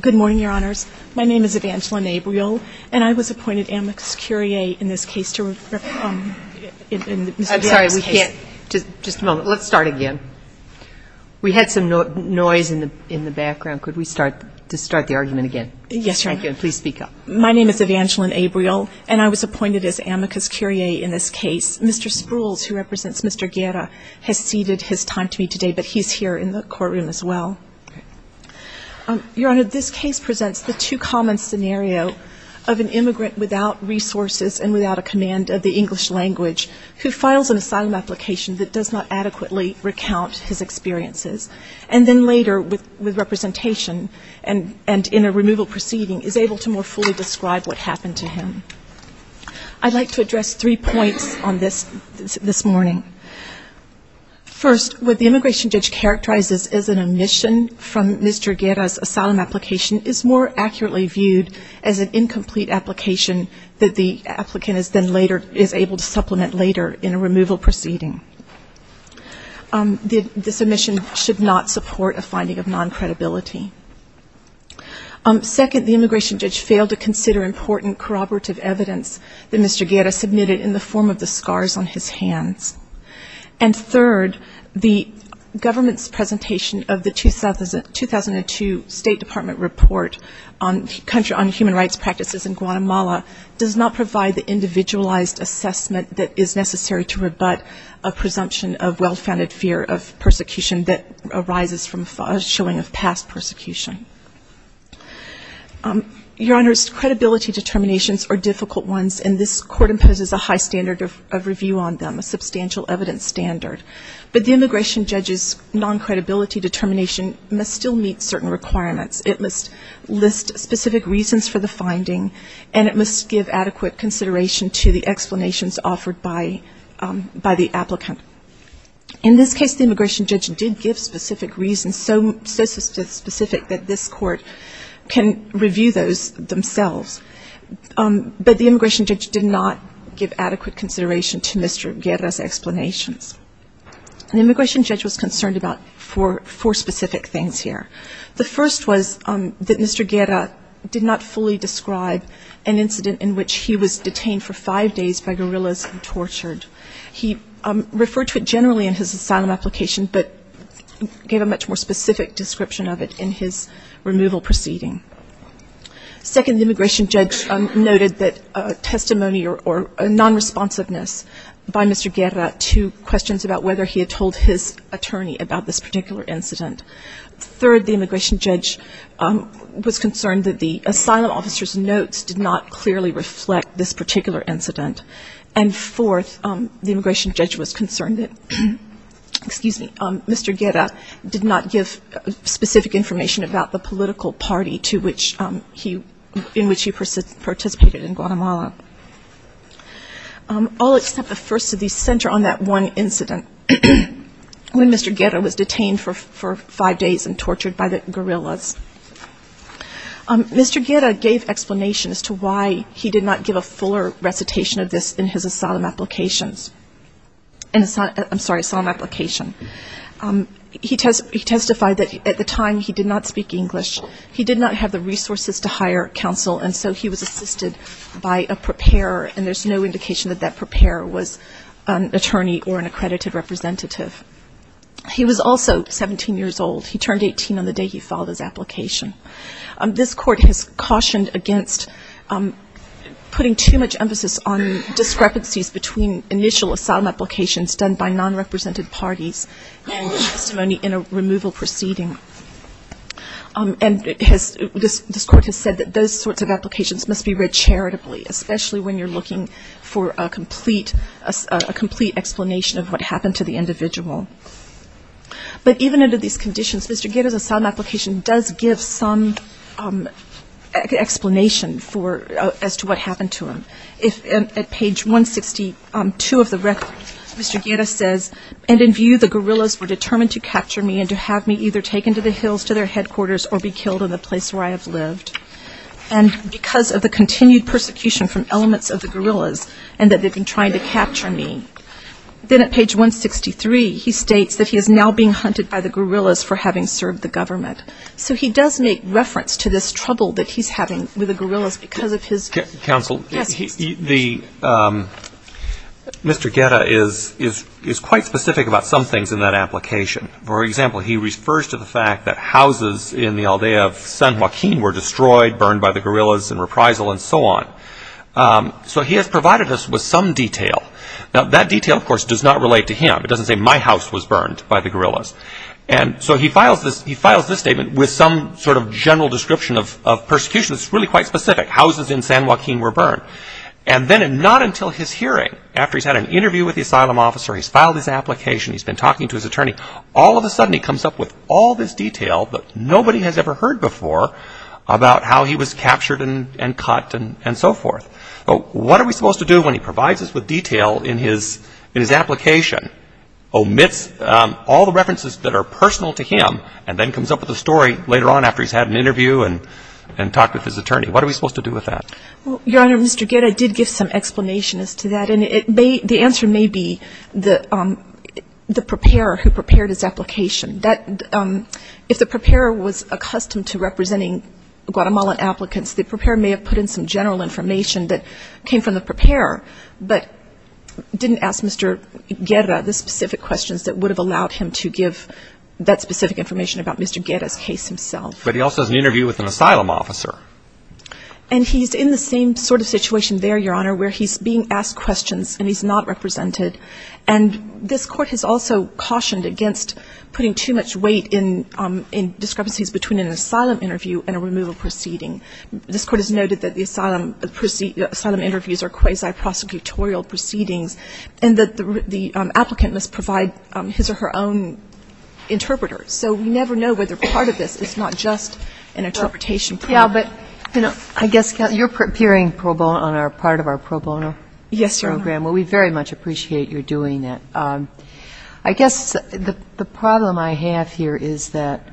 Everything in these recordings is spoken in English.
Good morning, Your Honors. My name is Evangeline Abreel, and I was appointed amicus curiae in this case. I'm sorry, we can't. Just a moment. Let's start again. We had some noise in the background. Could we start the argument again? Yes, Your Honor. Please speak up. My name is Evangeline Abreel, and I was appointed as amicus curiae in this case. Mr. Sprules, who represents Mr. Guerra, has ceded his time to me today, but he's here in the courtroom as well. Okay. Your Honor, this case presents the two-common scenario of an immigrant without resources and without a command of the English language who files an asylum application that does not adequately recount his experiences, and then later with representation and in a removal proceeding is able to more fully describe what happened to him. I'd like to address three points on this this morning. First, what the immigration judge characterizes as an omission from Mr. Guerra's asylum application is more accurately viewed as an incomplete application that the applicant is then later is able to supplement later in a removal proceeding. This omission should not support a finding of non-credibility. Second, the immigration judge failed to consider important corroborative evidence that Mr. Guerra submitted in the form of the scars on his hands. And third, the government's presentation of the 2002 State Department report on human rights practices in Guatemala does not provide the individualized assessment that is necessary to rebut a presumption of well-founded fear of persecution that arises from a showing of past persecution. Your Honors, credibility determinations are difficult ones, and this Court imposes a high standard of review on them, a substantial evidence standard. But the immigration judge's non-credibility determination must still meet certain requirements. It must list specific reasons for the finding, and it must give adequate consideration to the explanations offered by the applicant. In this case, the immigration judge did give specific reasons, so specific that this Court can review those themselves. But the immigration judge did not give adequate consideration to Mr. Guerra's explanations. The immigration judge was concerned about four specific things here. The first was that Mr. Guerra did not fully describe an incident in which he was detained for five days by guerrillas and tortured. He referred to it generally in his asylum application, but gave a much more specific description of it in his removal proceeding. Second, the immigration judge noted that testimony or non-responsiveness by Mr. Guerra to questions about whether he had told his attorney about this particular incident. Third, the immigration judge was concerned that the asylum officer's notes did not clearly reflect this particular incident. And fourth, the immigration judge was concerned that Mr. Guerra did not give specific information about the political party in which he participated in Guatemala. All except the first of these center on that one incident, when Mr. Guerra was detained for five days and tortured by the guerrillas. Mr. Guerra gave explanation as to why he did not give a fuller recitation of this in his asylum applications. I'm sorry, asylum application. He testified that at the time he did not speak English. He did not have the resources to hire counsel, and so he was assisted by a preparer, and there's no indication that that preparer was an attorney or an accredited representative. He was also 17 years old. He turned 18 on the day he filed his application. This court has cautioned against putting too much emphasis on discrepancies between initial asylum applications done by non-represented parties and testimony in a removal proceeding. And this court has said that those sorts of applications must be read charitably, especially when you're looking for a complete explanation of what happened to the individual. But even under these conditions, Mr. Guerra's asylum application does give some explanation as to what happened to him. At page 162 of the record, Mr. Guerra says, and in view the guerrillas were determined to capture me and to have me either taken to the hills to their headquarters or be killed in the place where I have lived. And because of the continued persecution from elements of the guerrillas and that they've been trying to capture me. Then at page 163, he states that he is now being hunted by the guerrillas for having served the government. So he does make reference to this trouble that he's having with the guerrillas because of his ‑‑ Counsel? Yes. Mr. Guerra is quite specific about some things in that application. For example, he refers to the fact that houses in the aldea of San Joaquin were destroyed, burned by the guerrillas and reprisal and so on. So he has provided us with some detail. Now that detail, of course, does not relate to him. It doesn't say my house was burned by the guerrillas. And so he files this ‑‑ he files this statement with some sort of general description of persecution that's really quite specific. Houses in San Joaquin were burned. And then not until his hearing after he's had an interview with the asylum officer, he's filed his application, he's been talking to his attorney, all of a sudden he comes up with all this detail that nobody has ever heard before about how he was captured and cut and so forth. What are we supposed to do when he provides us with detail in his application, omits all the references that are personal to him, and then comes up with a story later on after he's had an interview and talked with his attorney? What are we supposed to do with that? Your Honor, Mr. Guerra did give some explanation as to that. And it may ‑‑ the answer may be the preparer who prepared his application. That ‑‑ if the preparer was accustomed to representing Guatemalan applicants, the preparer may have put in some general information that came from the preparer, but didn't ask Mr. Guerra the specific questions that would have allowed him to give that specific information about Mr. Guerra's case himself. But he also has an interview with an asylum officer. And he's in the same sort of situation there, Your Honor, where he's being asked questions and he's not represented. And this Court has also cautioned against putting too much weight in discrepancies between an asylum interview and a removal proceeding. This Court has noted that the asylum interviews are quasi-prosecutorial proceedings, and that the applicant must provide his or her own interpreter. So we never know whether part of this is not just an interpretation problem. Yeah, but, you know ‑‑ I guess, Counsel, you're appearing pro bono on part of our pro bono program. Yes, Your Honor. Well, we very much appreciate your doing that. I guess the problem I have here is that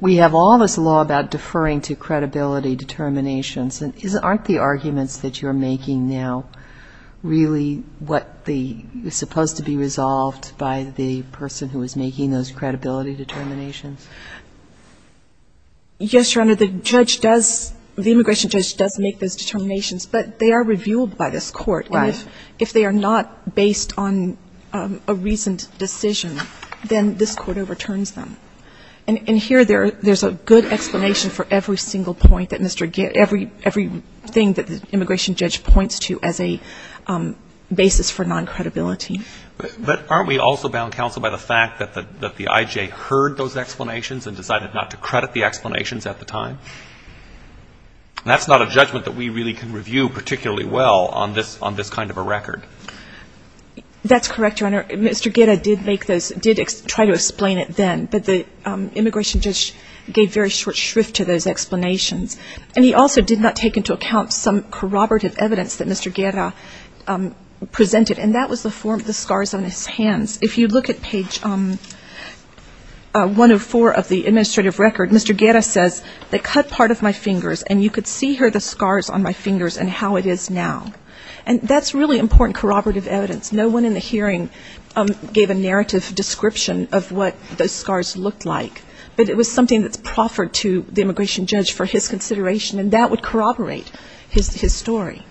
we have all this law about deferring to credibility determinations. Aren't the arguments that you're making now really what the ‑‑ supposed to be resolved by the person who is making those credibility determinations? Yes, Your Honor. The judge does ‑‑ the immigration judge does make those determinations. But they are reviewed by this Court. Right. And if they are not based on a reasoned decision, then this Court overturns them. And here there's a good explanation for every single point that Mr. ‑‑ every thing that the immigration judge points to as a basis for noncredibility. But aren't we also bound, Counsel, by the fact that the I.J. heard those explanations and decided not to credit the explanations at the time? And that's not a judgment that we really can review particularly well on this kind of a record. That's correct, Your Honor. Mr. Guerra did make those ‑‑ did try to explain it then. But the immigration judge gave very short shrift to those explanations. And he also did not take into account some corroborative evidence that Mr. Guerra presented. And that was the form of the scars on his hands. If you look at page 104 of the administrative record, Mr. Guerra says, they cut part of my fingers. And you could see here the scars on my fingers and how it is now. And that's really important corroborative evidence. No one in the hearing gave a narrative description of what those scars looked like. But it was something that's proffered to the immigration judge for his consideration. And that would corroborate his story.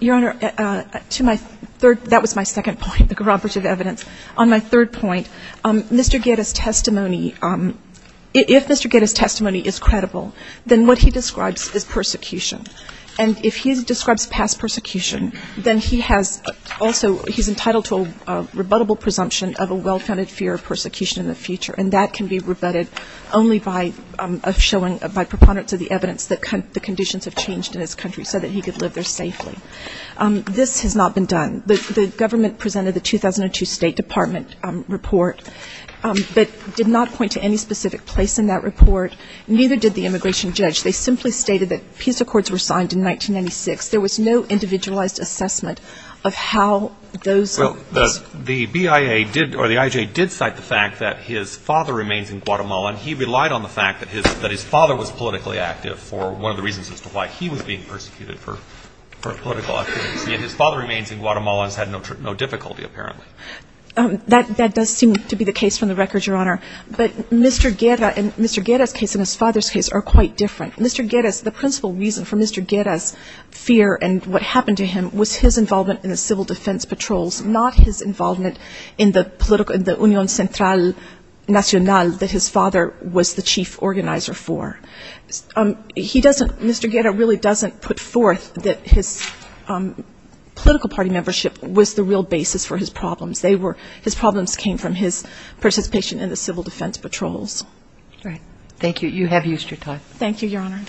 Your Honor, to my third ‑‑ that was my second point, the corroborative evidence. On my third point, Mr. Guerra's testimony ‑‑ if Mr. Guerra's testimony is credible, then what he describes is persecution. And if he describes past persecution, then he has also ‑‑ he's entitled to a rebuttable presumption of a well‑founded fear of persecution in the future. And that can be rebutted only by showing ‑‑ by preponderance of the evidence that the conditions have changed in his country so that he could live there safely. This has not been done. The government presented the 2002 State Department report, but did not point to any specific place in that report. Neither did the immigration judge. They simply stated that peace accords were signed in 1996. There was no individualized assessment of how those ‑‑ Well, the BIA did ‑‑ or the IJA did cite the fact that his father remains in Guatemala. And he relied on the fact that his father was politically active for one of the reasons as to why he was being persecuted for political activity. And his father remains in Guatemala and has had no difficulty, apparently. That does seem to be the case from the record, Your Honor. But Mr. Guerra and Mr. Guerra's case and his father's case are quite different. Mr. Guerra's ‑‑ the principal reason for Mr. Guerra's fear and what happened to him was his involvement in the civil defense patrols, not his involvement in the political ‑‑ in the Unión Central Nacional that his father was the chief organizer for. He doesn't ‑‑ Mr. Guerra really doesn't put forth that his political party membership was the real basis for his problems. They were ‑‑ his problems came from his participation in the civil defense patrols. All right. Thank you. You have used your time. Thank you, Your Honor.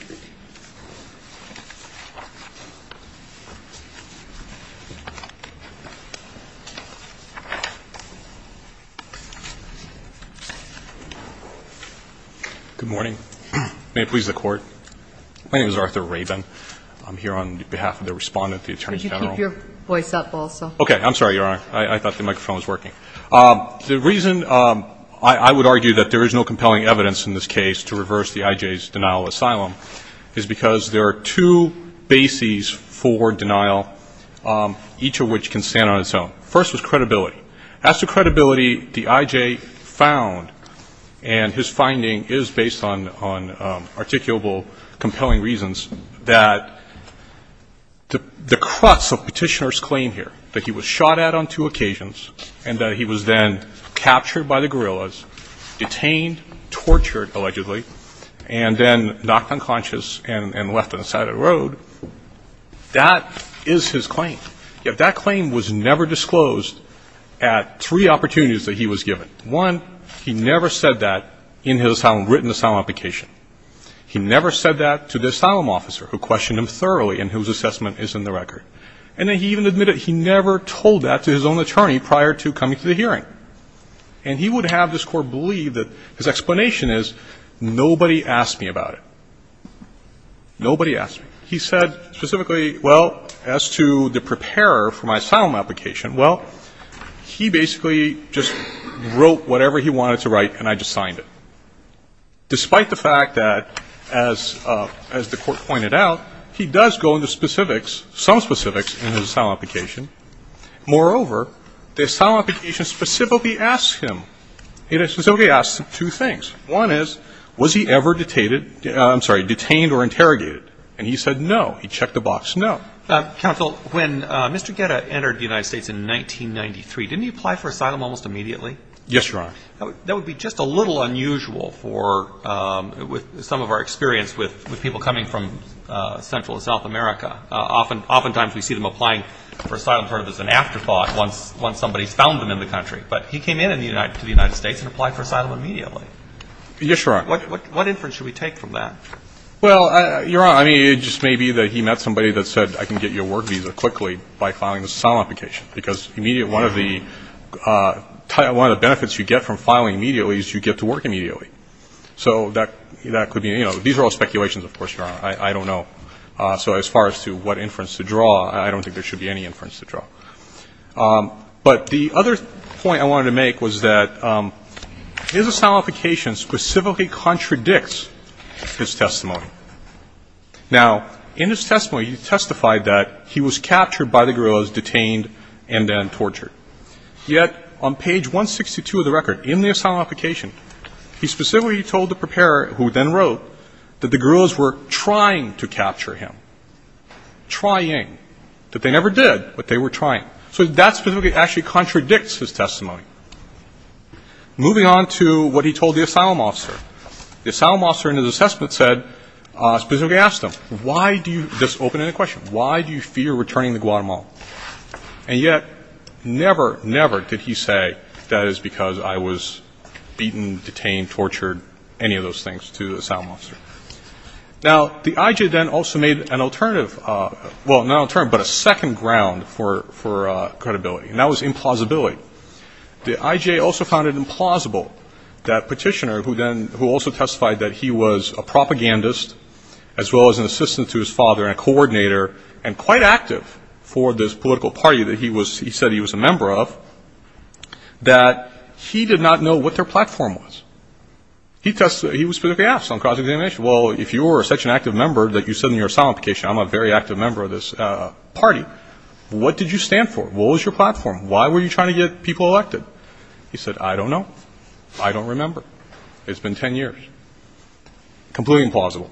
Good morning. May it please the Court. My name is Arthur Rabin. I'm here on behalf of the Respondent, the Attorney General. Could you keep your voice up also? Okay. I'm sorry, Your Honor. I thought the microphone was working. The reason I would argue that there is no compelling evidence in this case to reverse the IJA's denial of asylum is because there are two bases for denial, each of which can stand on its own. First is credibility. As to credibility, the IJA found, and his finding is based on articulable compelling reasons, that the crux of Petitioner's claim here, that he was shot at on two occasions and that he was then captured by the guerrillas, detained, tortured allegedly, and then knocked unconscious and left on the side of the road, that is his claim. Yet that claim was never disclosed at three opportunities that he was given. One, he never said that in his written asylum application. He never said that to the asylum officer who questioned him thoroughly and whose assessment is in the record. And then he even admitted he never told that to his own attorney prior to coming to the hearing. And he would have this Court believe that his explanation is, nobody asked me about it. Nobody asked me. He said specifically, well, as to the preparer for my asylum application, well, he basically just wrote whatever he wanted to write, and I just signed it, despite the fact that as the Court pointed out, he does go into specifics, some specifics, in his asylum application. Moreover, the asylum application specifically asks him. It specifically asks him two things. One is, was he ever detained or interrogated? And he said no. He checked the box, no. Counsel, when Mr. Guetta entered the United States in 1993, didn't he apply for asylum almost immediately? Yes, Your Honor. That would be just a little unusual for some of our experience with people coming from Central and South America. Oftentimes we see them applying for asylum sort of as an afterthought once somebody's found them in the country. But he came in to the United States and applied for asylum immediately. Yes, Your Honor. What inference should we take from that? Well, Your Honor, I mean, it just may be that he met somebody that said, I can get you a work visa quickly by filing this asylum application, because one of the benefits you get from filing immediately is you get to work immediately. So that could be, you know, these are all speculations, of course, Your Honor. I don't know. So as far as to what But the other point I wanted to make was that his asylum application specifically contradicts his testimony. Now, in his testimony, he testified that he was captured by the guerrillas, detained, and then tortured. Yet on page 162 of the record, in the asylum application, he specifically told the preparer, who then wrote, that the guerrillas were trying to capture him. Trying. That they never did, but they were trying. So that specifically actually contradicts his testimony. Moving on to what he told the asylum officer. The asylum officer in his assessment said, specifically asked him, why do you, this opened a question, why do you fear returning to Guatemala? And yet, never, never did he say, that is because I was beaten, detained, tortured, any of those things, to the asylum officer. Now, the IJA then also made an alternative, well, not an alternative, but a second ground for credibility. And that was implausibility. The IJA also found it implausible that Petitioner, who then, who also testified that he was a propagandist, as well as an assistant to his father and a coordinator, and quite active for this political party that he was, he said he was a member of, that he did not know what their platform was. He tested, he specifically asked on cross-examination, well, if you were such an active member that you said in your asylum application, I'm a very active member of this party, what did you stand for? What was your platform? Why were you trying to get people elected? He said, I don't know. I don't remember. It's been ten years. Completely implausible.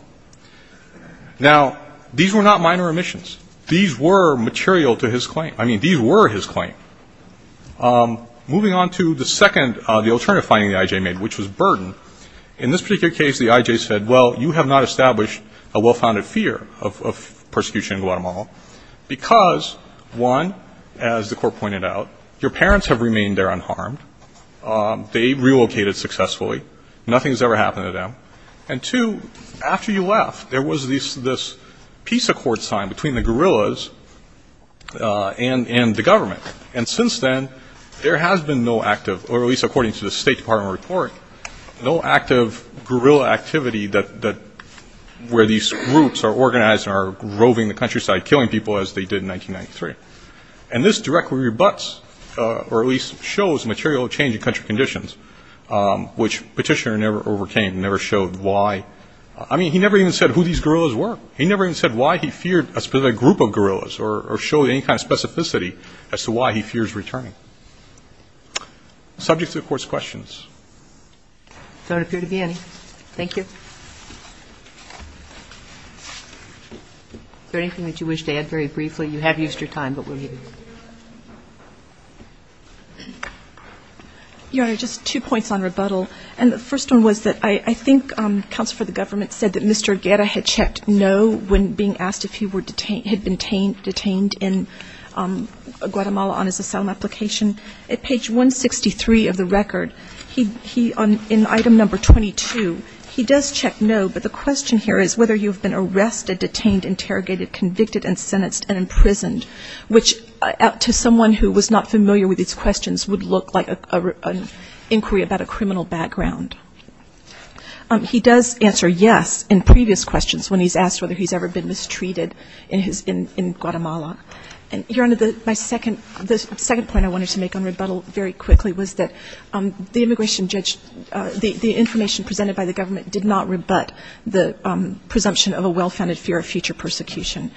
Now, these were not minor omissions. These were material to his claim. I mean, these were his claim. Moving on to the second, the alternative finding the IJA made, which was burden. In this particular case, the IJA said, well, you have not established a well-founded fear of persecution in Guatemala because, one, as the court pointed out, your parents have remained there unharmed. They relocated successfully. Nothing's ever happened to them. And two, after you left, there was this peace accord signed between the guerrillas and the government. And since then, there has been no active, or at least according to the State Department report, no active guerrilla activity where these groups are organized and are roving the countryside, killing people, as they did in 1993. And this directly rebuts, or at least shows, material change in country conditions, which Petitioner never overcame and never showed why. I mean, he never even said who these guerrillas were. He never even said why he feared a specific group of guerrillas or showed any kind of specificity as to why he fears returning. Subject to the Court's questions. There don't appear to be any. Thank you. Is there anything that you wish to add very briefly? You have used your time, but we'll leave it there. Your Honor, just two points on rebuttal. And the first one was that I think counsel for the government said that Mr. Guerra had checked no when being asked if he had been detained in Guatemala on his asylum application. At page 163 of the record, in item number 22, he does check no, but the question here is whether you have been arrested, detained, interrogated, convicted, and sentenced and imprisoned, which to someone who was not familiar with these questions would look like an inquiry about a criminal background. He does answer yes in previous questions when he's asked whether he's ever been mistreated in Guatemala. And, Your Honor, the second point I wanted to make on rebuttal very quickly was that the immigration judge, the information presented by the government did not rebut the presumption of a well-founded fear of future persecution.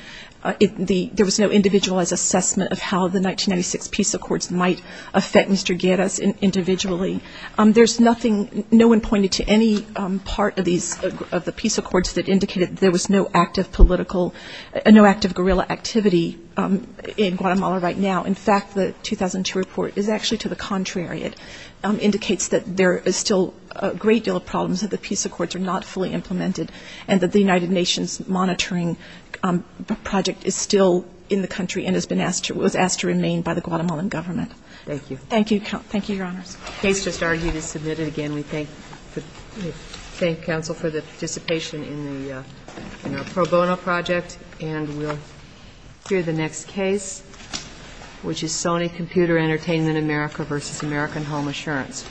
There was no individualized assessment of how the 1996 peace accords might affect Mr. Guerra individually. There's nothing, no one pointed to any part of these, of the peace accords that indicated there was no active political, no active guerrilla activity in Guatemala right now. In fact, the 2002 report is actually to the contrary. It indicates that there is still a great deal of problems that the peace accords are not fully implemented and that the United Nations monitoring project is still in the country and has been asked to, was asked to remain by the Guatemalan government. Thank you. Thank you, Your Honors. The case just argued is submitted. Again, we thank counsel for the participation in the pro bono project. And we'll hear the next case, which is Sony Computer Entertainment America v. American Home Assurance.